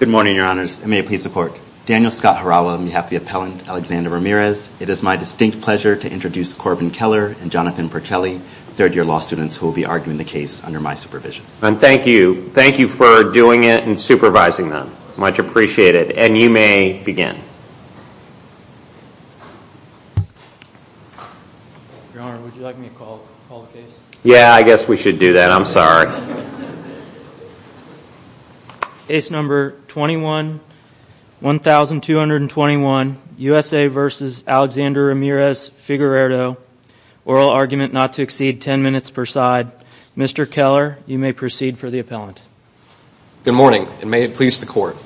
Good morning, your honors, and may it please the court. Daniel Scott Harawa on behalf of the appellant Alexander Ramirez. It is my distinct pleasure to introduce Corbin Keller and Jonathan Pertelli, third-year law students who will be arguing the case under my supervision. Thank you. Thank you for doing it and supervising them. Much appreciated. And you may begin. Your honor, would you like me to call the case? Yeah, I guess we should do that, I'm sorry. Case number 21, 1221, USA v. Alexander Ramirez-Figueredo, oral argument not to exceed 10 minutes per side. Mr. Keller, you may proceed for the appellant. Good morning, and may it please the court.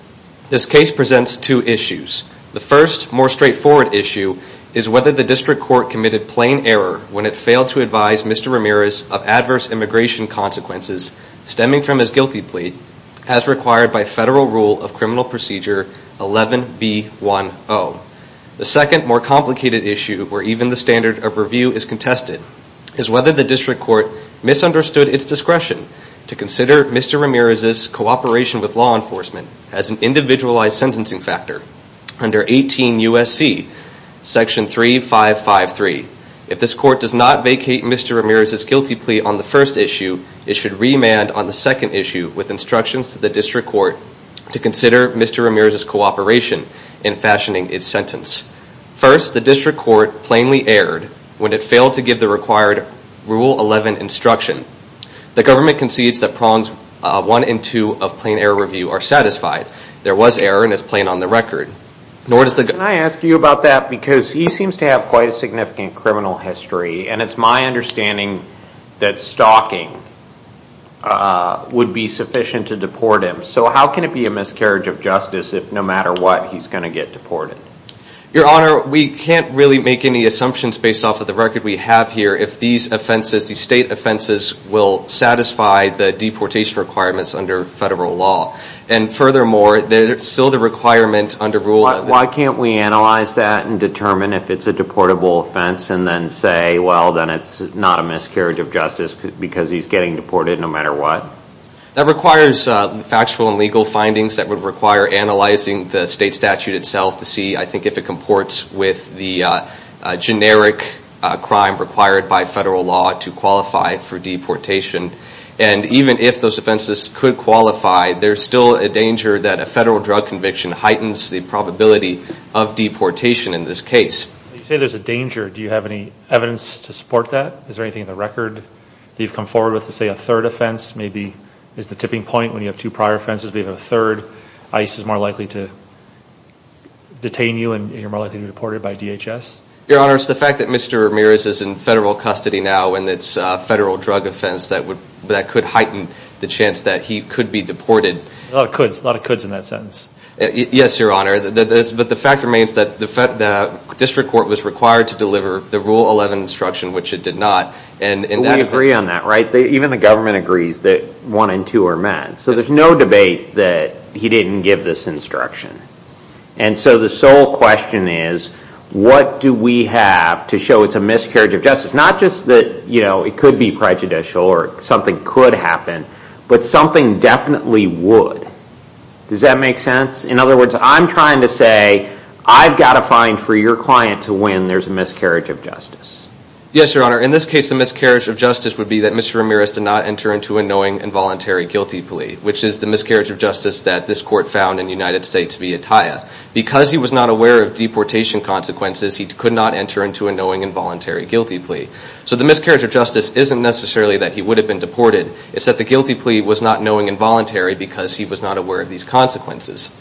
This case presents two issues. The first, more straightforward issue, is whether the district court committed plain error when it failed to advise Mr. Ramirez of adverse immigration consequences stemming from his guilty plea, as required by federal rule of criminal procedure 11B10. The second, more complicated issue, where even the standard of review is contested, is whether the district court misunderstood its discretion to consider Mr. Ramirez's cooperation with law enforcement as an individualized sentencing factor. Under 18 USC, section 3553, if this court does not vacate Mr. Ramirez's guilty plea on the first issue, it should remand on the second issue with instructions to the district court to consider Mr. Ramirez's cooperation in fashioning its sentence. First, the district court plainly erred when it failed to give the required rule 11 instruction. The government concedes that prongs 1 and 2 of plain error review are satisfied. There was error and it's plain on the record. Can I ask you about that because he seems to have quite a significant criminal history and it's my understanding that stalking would be sufficient to deport him. So how can it be a miscarriage of justice if no matter what he's going to get deported? Your honor, we can't really make any assumptions based off of the record we have here if these offenses, these state offenses, will satisfy the deportation requirements under federal law. And furthermore, there's still the requirement under rule. Why can't we analyze that and determine if it's a deportable offense and then say, well, then it's not a miscarriage of justice because he's getting deported no matter what? That requires factual and legal findings that would require analyzing the state statute itself to see, I think, if it comports with the generic crime required by federal law to qualify for deportation. And even if those offenses could qualify, there's still a danger that a federal drug conviction heightens the probability of deportation in this case. You say there's a danger. Do you have any evidence to support that? Is there anything in the record that you've come forward with to say a third offense maybe is the tipping point when you have two prior offenses, maybe a third, ICE is more likely to detain you and you're more likely to be deported by DHS? Your honor, it's the fact that Mr. Ramirez is in federal custody now and it's a federal drug offense that could heighten the chance that he could be deported. A lot of coulds. A lot of coulds in that sense. Yes, your honor. But the fact remains that the district court was required to deliver the Rule 11 instruction, which it did not. But we agree on that, right? Even the government agrees that one and two are met. So there's no debate that he didn't give this instruction. And so the sole question is, what do we have to show it's a miscarriage of justice? It's not just that it could be prejudicial or something could happen, but something definitely would. Does that make sense? In other words, I'm trying to say I've got to find for your client to win there's a miscarriage of justice. Yes, your honor. In this case, the miscarriage of justice would be that Mr. Ramirez did not enter into a knowing involuntary guilty plea, which is the miscarriage of justice that this court found in the United States via TIA. Because he was not aware of deportation consequences, he could not enter into a knowing involuntary guilty plea. So the miscarriage of justice isn't necessarily that he would have been deported, it's that the guilty plea was not knowing involuntary because he was not aware of these consequences.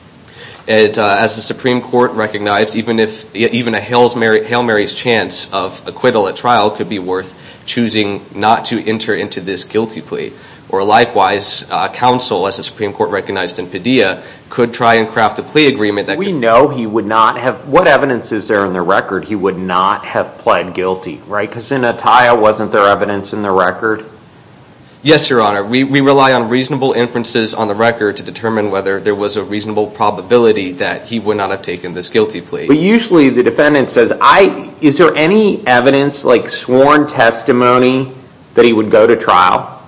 As the Supreme Court recognized, even a Hail Mary's chance of acquittal at trial could be worth choosing not to enter into this guilty plea. Or likewise, counsel, as the Supreme Court recognized in Padilla, could try and craft a plea agreement that could- We know he would not have, what evidence is there on the record, he would not have pled guilty, right? Because in a TIA, wasn't there evidence in the record? Yes, your honor. We rely on reasonable inferences on the record to determine whether there was a reasonable probability that he would not have taken this guilty plea. But usually the defendant says, is there any evidence, like sworn testimony, that he would go to trial?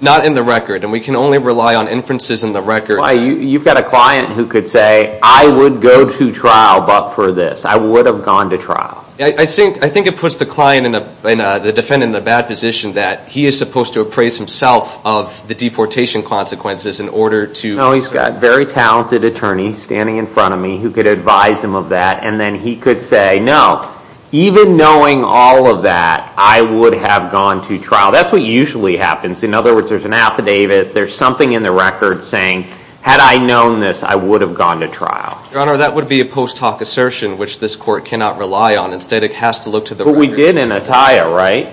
Not in the record. And we can only rely on inferences in the record. You've got a client who could say, I would go to trial but for this, I would have gone to trial. I think it puts the client and the defendant in a bad position that he is supposed to appraise himself of the deportation consequences in order to- No, he's got a very talented attorney standing in front of me who could advise him of that. And then he could say, no, even knowing all of that, I would have gone to trial. That's what usually happens. In other words, there's an affidavit, there's something in the record saying, had I known this, I would have gone to trial. Your Honor, that would be a post hoc assertion, which this court cannot rely on. Instead, it has to look to the records. But we did in Attia, right?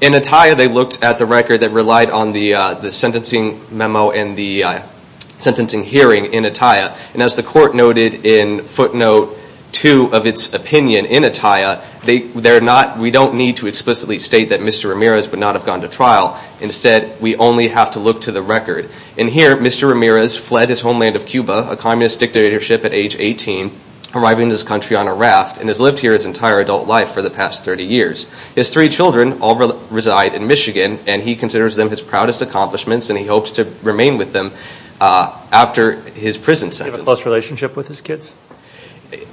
In Attia, they looked at the record that relied on the sentencing memo and the sentencing hearing in Attia. And as the court noted in footnote two of its opinion in Attia, we don't need to explicitly state that Mr. Ramirez would not have gone to trial. Instead, we only have to look to the record. And here, Mr. Ramirez fled his homeland of Cuba, a communist dictatorship at age 18, arriving in this country on a raft and has lived here his entire adult life for the past 30 years. His three children all reside in Michigan and he considers them his proudest accomplishments and he hopes to remain with them after his prison sentence. Do you have a close relationship with his kids?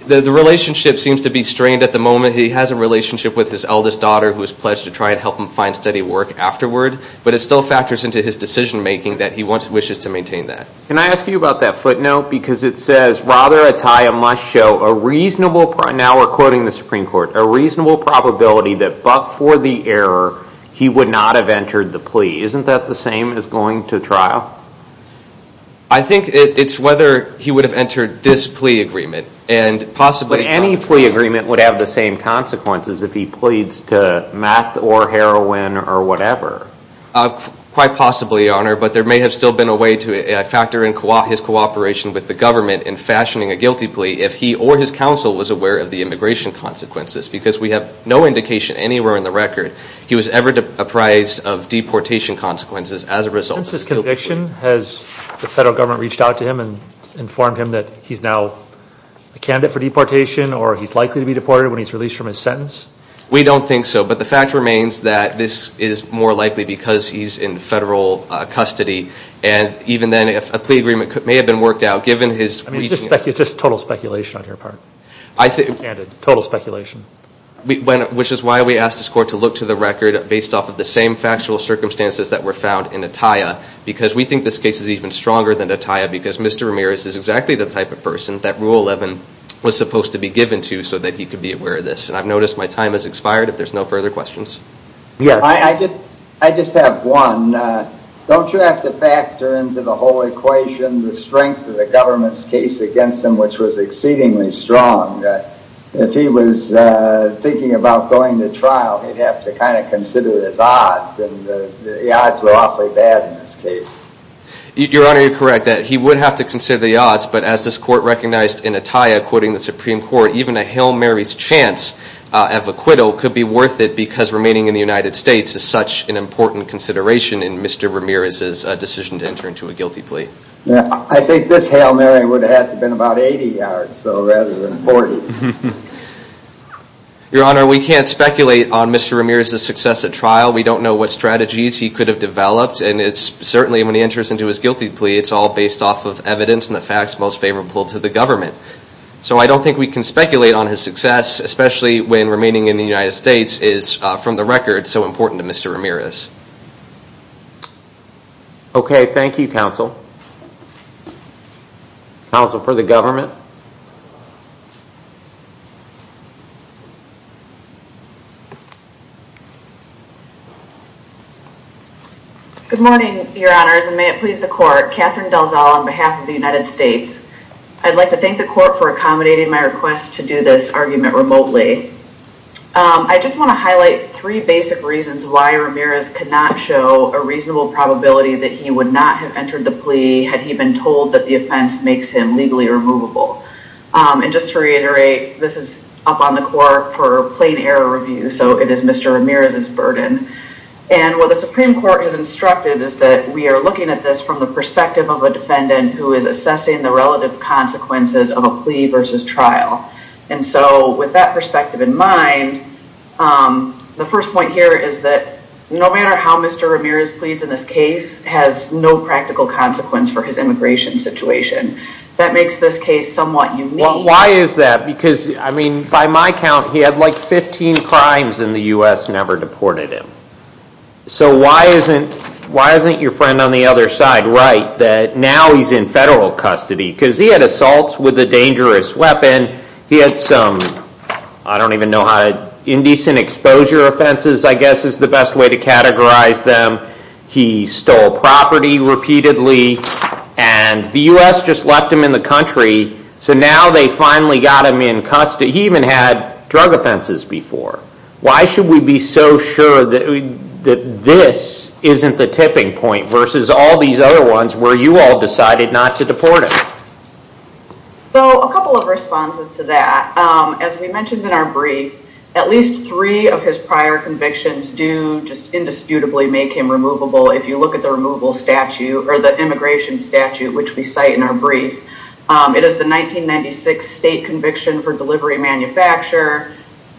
The relationship seems to be strained at the moment. He has a relationship with his eldest daughter who has pledged to try and help him find steady work afterward, but it still factors into his decision making that he wishes to maintain that. Can I ask you about that footnote? Because it says, rather Attia must show a reasonable, now we're quoting the Supreme Court, a reasonable probability that but for the error, he would not have entered the plea. Isn't that the same as going to trial? I think it's whether he would have entered this plea agreement and possibly. Any plea agreement would have the same consequences if he pleads to meth or heroin or whatever. Quite possibly, Your Honor, but there may have still been a way to factor in his cooperation with the government in fashioning a guilty plea if he or his counsel was aware of the immigration consequences because we have no indication anywhere in the record he was ever apprised of deportation consequences as a result. Since his conviction, has the federal government reached out to him and informed him that he's now a candidate for deportation or he's likely to be deported when he's released from his sentence? We don't think so. But the fact remains that this is more likely because he's in federal custody and even then if a plea agreement may have been worked out, given his reasoning. I mean, it's just total speculation on your part. Total speculation. Which is why we asked this court to look to the record based off of the same factual circumstances that were found in Attia because we think this case is even stronger than Attia because Mr. Ramirez is exactly the type of person that Rule 11 was supposed to be given to so that he could be aware of this. And I've noticed my time has expired if there's no further questions. Yes. I just have one. Don't you have to factor into the whole equation the strength of the government's case against him which was exceedingly strong that if he was thinking about going to trial, he'd have to kind of consider his odds and the odds were awfully bad in this case. Your Honor, you're correct that he would have to consider the odds, but as this court recognized in Attia, quoting the Supreme Court, even a Hail Mary's chance of acquittal could be worth it because remaining in the United States is such an important consideration in Mr. Ramirez's decision to enter into a guilty plea. I think this Hail Mary would have to have been about 80 yards, so rather than 40. Your Honor, we can't speculate on Mr. Ramirez's success at trial. We don't know what strategies he could have developed and it's certainly when he enters into his guilty plea, it's all based off of evidence and the facts most favorable to the government. So I don't think we can speculate on his success, especially when remaining in the United States is, from the record, so important to Mr. Ramirez. Okay, thank you, counsel. Counsel for the government. Good morning, Your Honors, and may it please the court. Catherine Delzal on behalf of the United States. I'd like to thank the court for accommodating my request to do this argument remotely. I just want to highlight three basic reasons why Ramirez could not show a reasonable probability that he would not have entered the plea had he been told that the offense makes him legally removable. And just to reiterate, this is up on the court for plain error review, so it is Mr. Ramirez's burden. And what the Supreme Court has instructed is that we are looking at this from the perspective of a defendant who is assessing the relative consequences of a plea versus trial. And so with that perspective in mind, the first point here is that no matter how Mr. Ramirez pleads in this case has no practical consequence for his immigration situation. That makes this case somewhat unique. Why is that? Because, I mean, by my count, he had like 15 crimes in the U.S. never deported him. So why isn't your friend on the other side right that now he's in federal custody? Because he had assaults with a dangerous weapon, he had some, I don't even know how, indecent exposure offenses, I guess is the best way to categorize them. He stole property repeatedly, and the U.S. just left him in the country, so now they finally got him in custody. He even had drug offenses before. Why should we be so sure that this isn't the tipping point versus all these other ones where you all decided not to deport him? So a couple of responses to that. As we mentioned in our brief, at least three of his prior convictions do just indisputably make him removable if you look at the removal statute, or the immigration statute which we cite in our brief. It is the 1996 state conviction for delivery manufacture,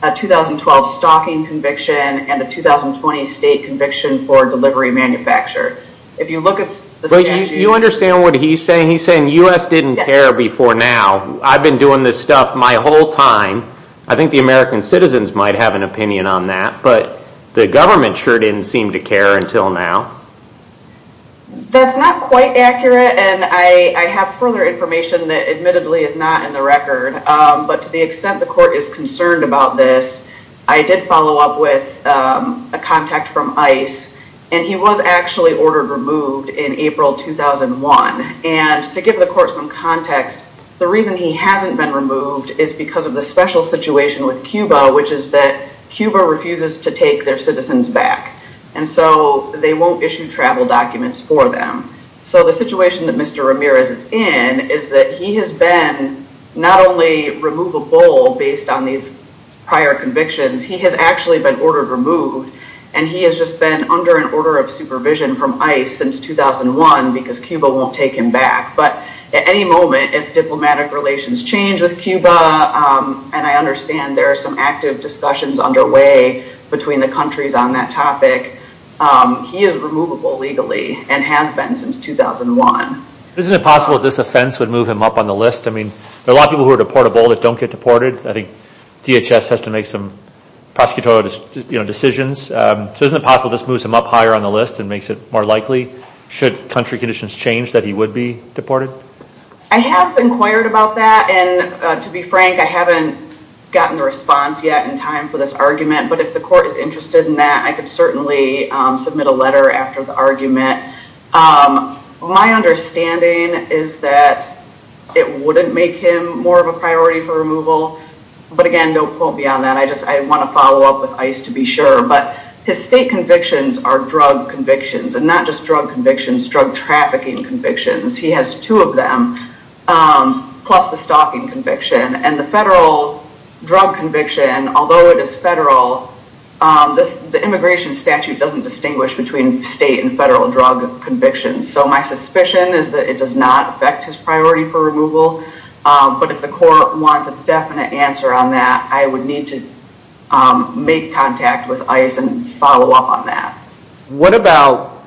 a 2012 stalking conviction, and a 2020 state conviction for delivery manufacture. If you look at the statute... You understand what he's saying? He's saying U.S. didn't care before now. I've been doing this stuff my whole time. I think the American citizens might have an opinion on that, but the government sure didn't seem to care until now. That's not quite accurate, and I have further information that admittedly is not in the record, but to the extent the court is concerned about this, I did follow up with a contact from ICE, and he was actually ordered removed in April 2001. To give the court some context, the reason he hasn't been removed is because of the special situation with Cuba, which is that Cuba refuses to take their citizens back. And so they won't issue travel documents for them. So the situation that Mr. Ramirez is in is that he has been not only removable based on these prior convictions, he has actually been ordered removed, and he has just been under an order of supervision from ICE since 2001 because Cuba won't take him back. But at any moment, if diplomatic relations change with Cuba, and I understand there are some active discussions underway between the countries on that topic, he is removable legally and has been since 2001. Isn't it possible that this offense would move him up on the list? I mean, there are a lot of people who are deportable that don't get deported. I think DHS has to make some prosecutorial decisions. So isn't it possible this moves him up higher on the list and makes it more likely, should country conditions change, that he would be deported? I have inquired about that, and to be frank, I haven't gotten a response yet in time for this argument, but if the court is interested in that, I could certainly submit a letter after the argument. My understanding is that it wouldn't make him more of a priority for removal. But again, no point beyond that. I want to follow up with ICE to be sure. But his state convictions are drug convictions, and not just drug convictions, drug trafficking convictions. He has two of them, plus the stalking conviction. And the federal drug conviction, although it is federal, the immigration statute doesn't distinguish between state and federal drug convictions. So my suspicion is that it does not affect his priority for removal. But if the court wants a definite answer on that, I would need to make contact with ICE and follow up on that. What about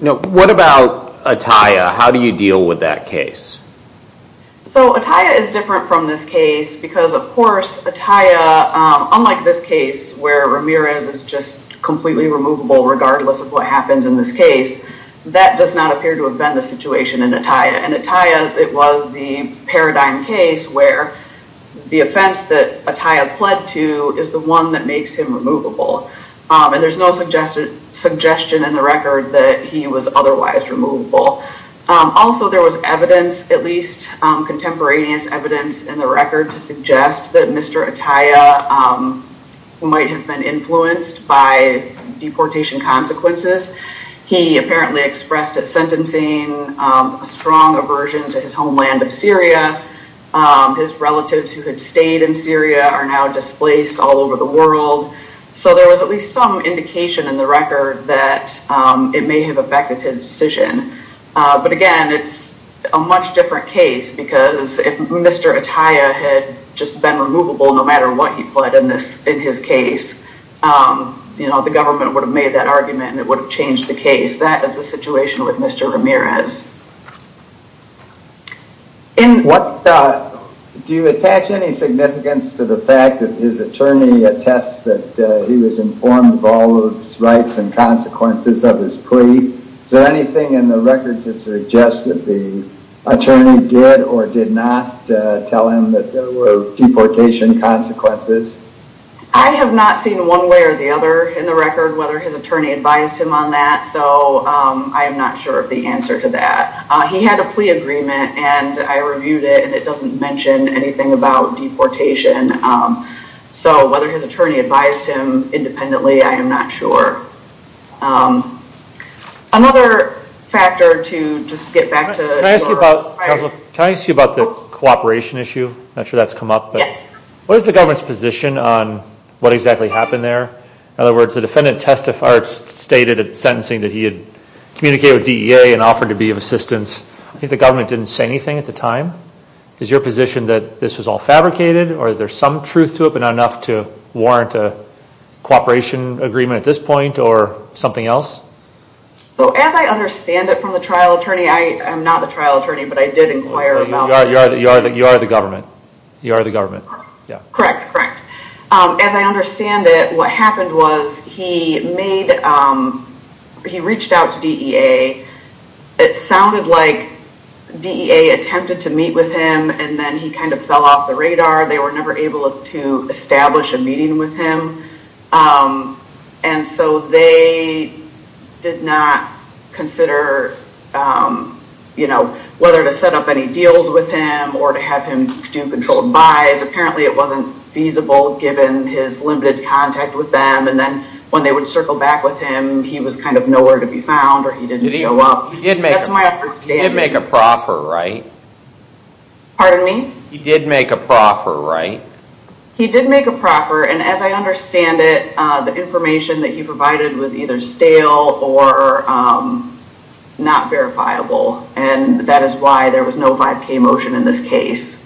Atiyah? How do you deal with that case? So Atiyah is different from this case because, of course, Atiyah, unlike this case where Ramirez is just completely removable regardless of what happens in this case, that does not appear to have been the situation in Atiyah. In Atiyah, it was the paradigm case where the offense that Atiyah pled to is the one that makes him removable. And there's no suggestion in the record that he was otherwise removable. Also, there was evidence, at least contemporaneous evidence, in the record to suggest that Mr. Atiyah might have been influenced by deportation consequences. He apparently expressed a sentencing, a strong aversion to his homeland of Syria. His relatives who had stayed in Syria are now displaced all over the world. So there was at least some indication in the record that it may have affected his decision. But again, it's a much different case because if Mr. Atiyah had just been removable no matter what he pled in his case, the government would have made that argument and it would have changed the case. That is the situation with Mr. Ramirez. Do you attach any significance to the fact that his attorney attests that he was informed of all of the rights and consequences of his plea? Is there anything in the record to suggest that the attorney did or did not tell him that there were deportation consequences? I have not seen one way or the other in the record whether his attorney advised him on that. So I am not sure of the answer to that. He had a plea agreement and I reviewed it and it doesn't mention anything about deportation. So whether his attorney advised him independently, I am not sure. Another factor to just get back to- Can I ask you about the cooperation issue? I'm not sure that's come up, but what is the government's position on what exactly happened there? In other words, the defendant testified, stated in sentencing that he had communicated with DEA and offered to be of assistance. I think the government didn't say anything at the time. Is your position that this was all fabricated or is there some truth to it but not enough to warrant a cooperation agreement at this point or something else? So as I understand it from the trial attorney, I am not the trial attorney, but I did inquire about- You are the government. You are the government. Correct. Correct. As I understand it, what happened was he reached out to DEA. It sounded like DEA attempted to meet with him and then he kind of fell off the radar. They were never able to establish a meeting with him. And so they did not consider whether to set up any deals with him or to have him do controlled buys. Apparently it wasn't feasible given his limited contact with them and then when they would circle back with him, he was kind of nowhere to be found or he didn't show up. He did make a proffer, right? Pardon me? He did make a proffer, right? He did make a proffer and as I understand it, the information that he provided was either stale or not verifiable and that is why there was no 5K motion in this case.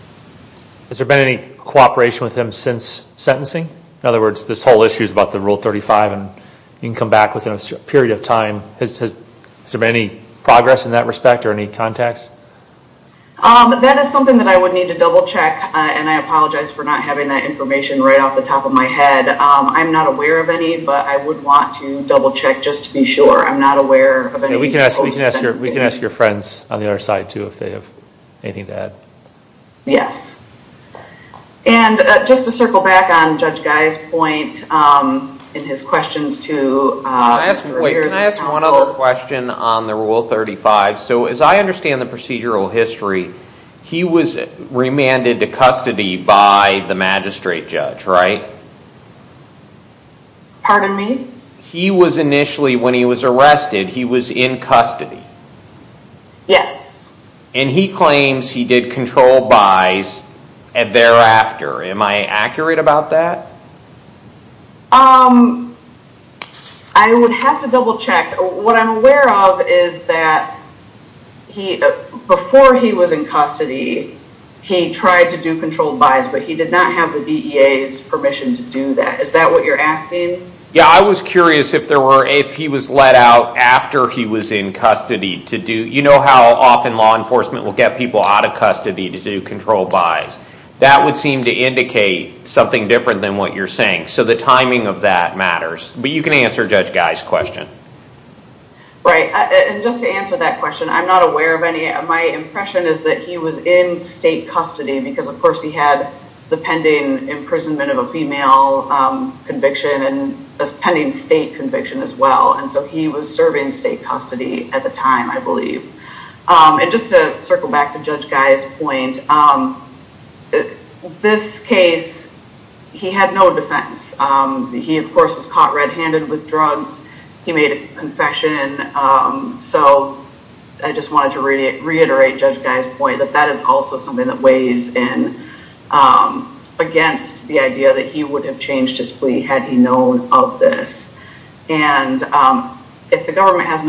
Has there been any cooperation with him since sentencing? In other words, this whole issue is about the Rule 35 and you can come back within a period of time. Has there been any progress in that respect or any contacts? That is something that I would need to double check and I apologize for not having that information right off the top of my head. I'm not aware of any, but I would want to double check just to be sure. I'm not aware of any- We can ask your friends on the other side too if they have anything to add. Yes. And just to circle back on Judge Guy's point and his questions to- Wait, can I ask one other question on the Rule 35? So as I understand the procedural history, he was remanded to custody by the magistrate judge, right? Pardon me? He was initially, when he was arrested, he was in custody. Yes. And he claims he did controlled by's thereafter. Am I accurate about that? I would have to double check. What I'm aware of is that before he was in custody, he tried to do controlled by's, but he did not have the DEA's permission to do that. Is that what you're asking? Yeah, I was curious if he was let out after he was in custody to do- You know how often law enforcement will get people out of custody to do controlled by's? That would seem to indicate something different than what you're saying. So the timing of that matters. But you can answer Judge Guy's question. Right. And just to answer that question, I'm not aware of any. My impression is that he was in state custody because, of course, he had the pending imprisonment of a female conviction and a pending state conviction as well. And so he was serving state custody at the time, I believe. And just to circle back to Judge Guy's point, this case, he had no defense. He of course was caught red-handed with drugs. He made a confession. So I just wanted to reiterate Judge Guy's point that that is also something that weighs in against the idea that he would have changed his plea had he known of this. And if the court has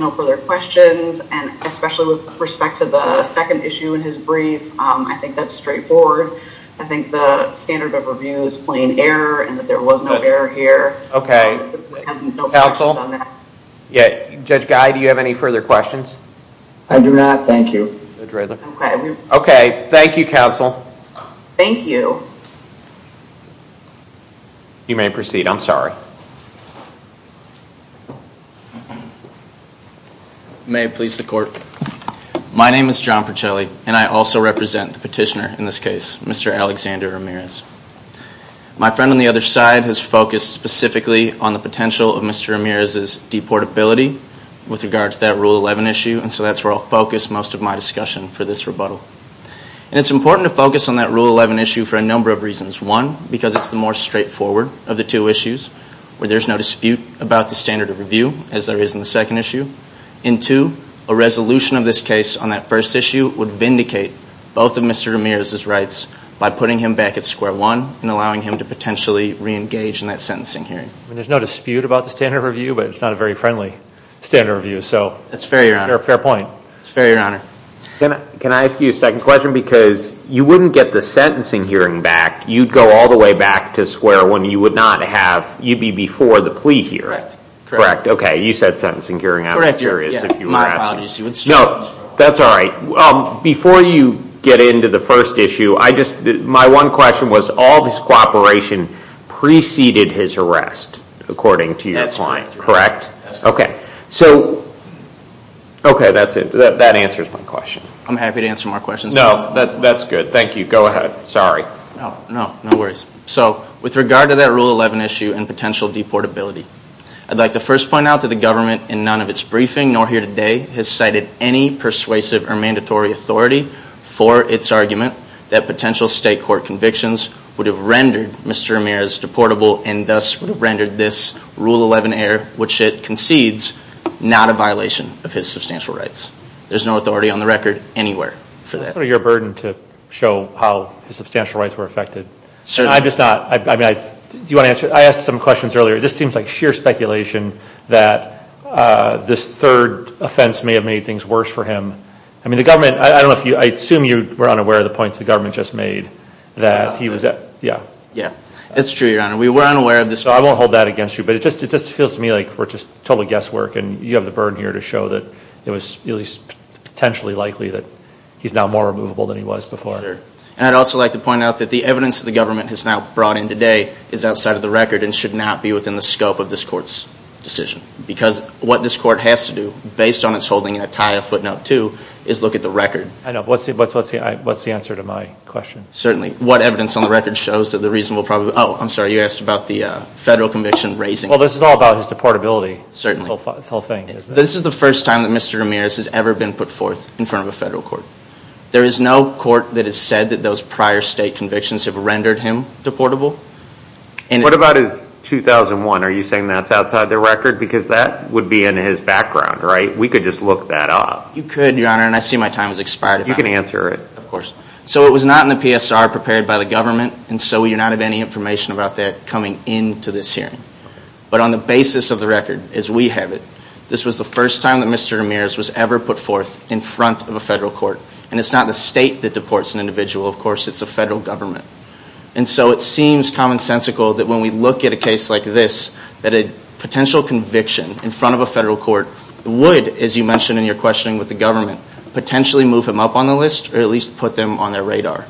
no further questions, and especially with respect to the second issue in his brief, I think that's straightforward. I think the standard of review is plain error and that there was no error here. Okay. Counsel? Yeah. Judge Guy, do you have any further questions? I do not. Thank you. Okay. Thank you, Counsel. Thank you. You may proceed. I'm sorry. May it please the court. My name is John Percelli and I also represent the petitioner in this case, Mr. Alexander Ramirez. My friend on the other side has focused specifically on the potential of Mr. Ramirez's deportability with regard to that Rule 11 issue and so that's where I'll focus most of my discussion for this rebuttal. And it's important to focus on that Rule 11 issue for a number of reasons. One, because it's the more straightforward of the two issues where there's no dispute about the standard of review as there is in the second issue. And two, a resolution of this case on that first issue would vindicate both of Mr. Ramirez's rights by putting him back at square one and allowing him to potentially reengage in that sentencing hearing. I mean, there's no dispute about the standard of review, but it's not a very friendly standard of review, so. That's fair, Your Honor. Fair point. Fair point. That's fair, Your Honor. Can I ask you a second question? Because you wouldn't get the sentencing hearing back, you'd go all the way back to square one. You would not have, you'd be before the plea hearing. Correct. Correct. Okay. You said sentencing hearing. I'm curious if you were asking. My apologies. No, that's all right. Before you get into the first issue, I just, my one question was all this cooperation preceded his arrest according to your client, correct? That's correct. Okay. So, okay, that's it. That answers my question. I'm happy to answer more questions. No, that's good. Thank you. Go ahead. Sorry. No, no worries. So, with regard to that Rule 11 issue and potential deportability, I'd like to first point out that the government in none of its briefing nor here today has cited any persuasive or mandatory authority for its argument that potential state court convictions would have rendered Mr. Ramirez deportable and thus would have rendered this Rule 11 error, which it precedes, not a violation of his substantial rights. There's no authority on the record anywhere for that. That's sort of your burden to show how his substantial rights were affected. Certainly. I'm just not. I mean, I, do you want to answer? I asked some questions earlier. It just seems like sheer speculation that this third offense may have made things worse for him. I mean, the government, I don't know if you, I assume you were unaware of the points the government just made that he was, yeah. Yeah. It's true, Your Honor. We were unaware of this. So I won't hold that against you, but it just, it just feels to me like we're just total guesswork and you have the burden here to show that it was at least potentially likely that he's now more removable than he was before. Sure. And I'd also like to point out that the evidence that the government has now brought in today is outside of the record and should not be within the scope of this court's decision because what this court has to do based on its holding in a tie of footnote two is look at the record. I know. What's the, what's, what's the, what's the answer to my question? Certainly. What evidence on the record shows that the reasonable, probably, oh, I'm sorry, you asked about the federal conviction raising. Well, this is all about his deportability. Certainly. The whole thing. This is the first time that Mr. Ramirez has ever been put forth in front of a federal court. There is no court that has said that those prior state convictions have rendered him deportable. And what about his 2001? Are you saying that's outside the record? Because that would be in his background, right? We could just look that up. You could, Your Honor, and I see my time has expired. You can answer it. Of course. So it was not in the PSR prepared by the government. And so we do not have any information about that coming into this hearing. But on the basis of the record, as we have it, this was the first time that Mr. Ramirez was ever put forth in front of a federal court. And it's not the state that deports an individual, of course, it's the federal government. And so it seems commonsensical that when we look at a case like this, that a potential conviction in front of a federal court would, as you mentioned in your questioning with the government, potentially move him up on the list, or at least put them on their radar.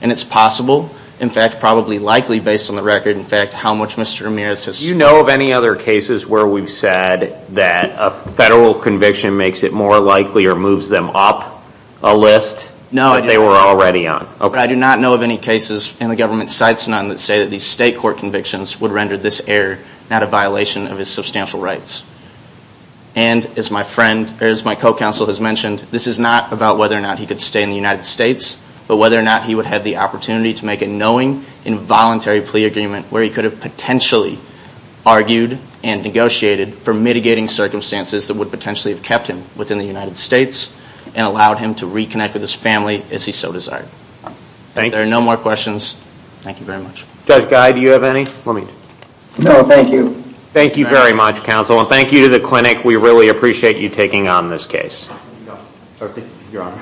And it's possible, in fact, probably likely based on the record, in fact, how much Mr. Ramirez has... Do you know of any other cases where we've said that a federal conviction makes it more likely or moves them up a list that they were already on? No. I do not know of any cases, and the government cites none, that say that these state court convictions would render this error not a violation of his substantial rights. And as my friend, or as my co-counsel has mentioned, this is not about whether or not he could stay in the United States, but whether or not he would have the opportunity to make a knowing involuntary plea agreement where he could have potentially argued and negotiated for mitigating circumstances that would potentially have kept him within the United States and allowed him to reconnect with his family as he so desired. Thank you. There are no more questions. Thank you very much. Judge Guy, do you have any? Let me... No, thank you. Thank you very much, counsel. And thank you to the clinic. We really appreciate you taking on this case. Thank you. You're welcome. Thank you. Thank you. Thank you. Thank you. Thank you.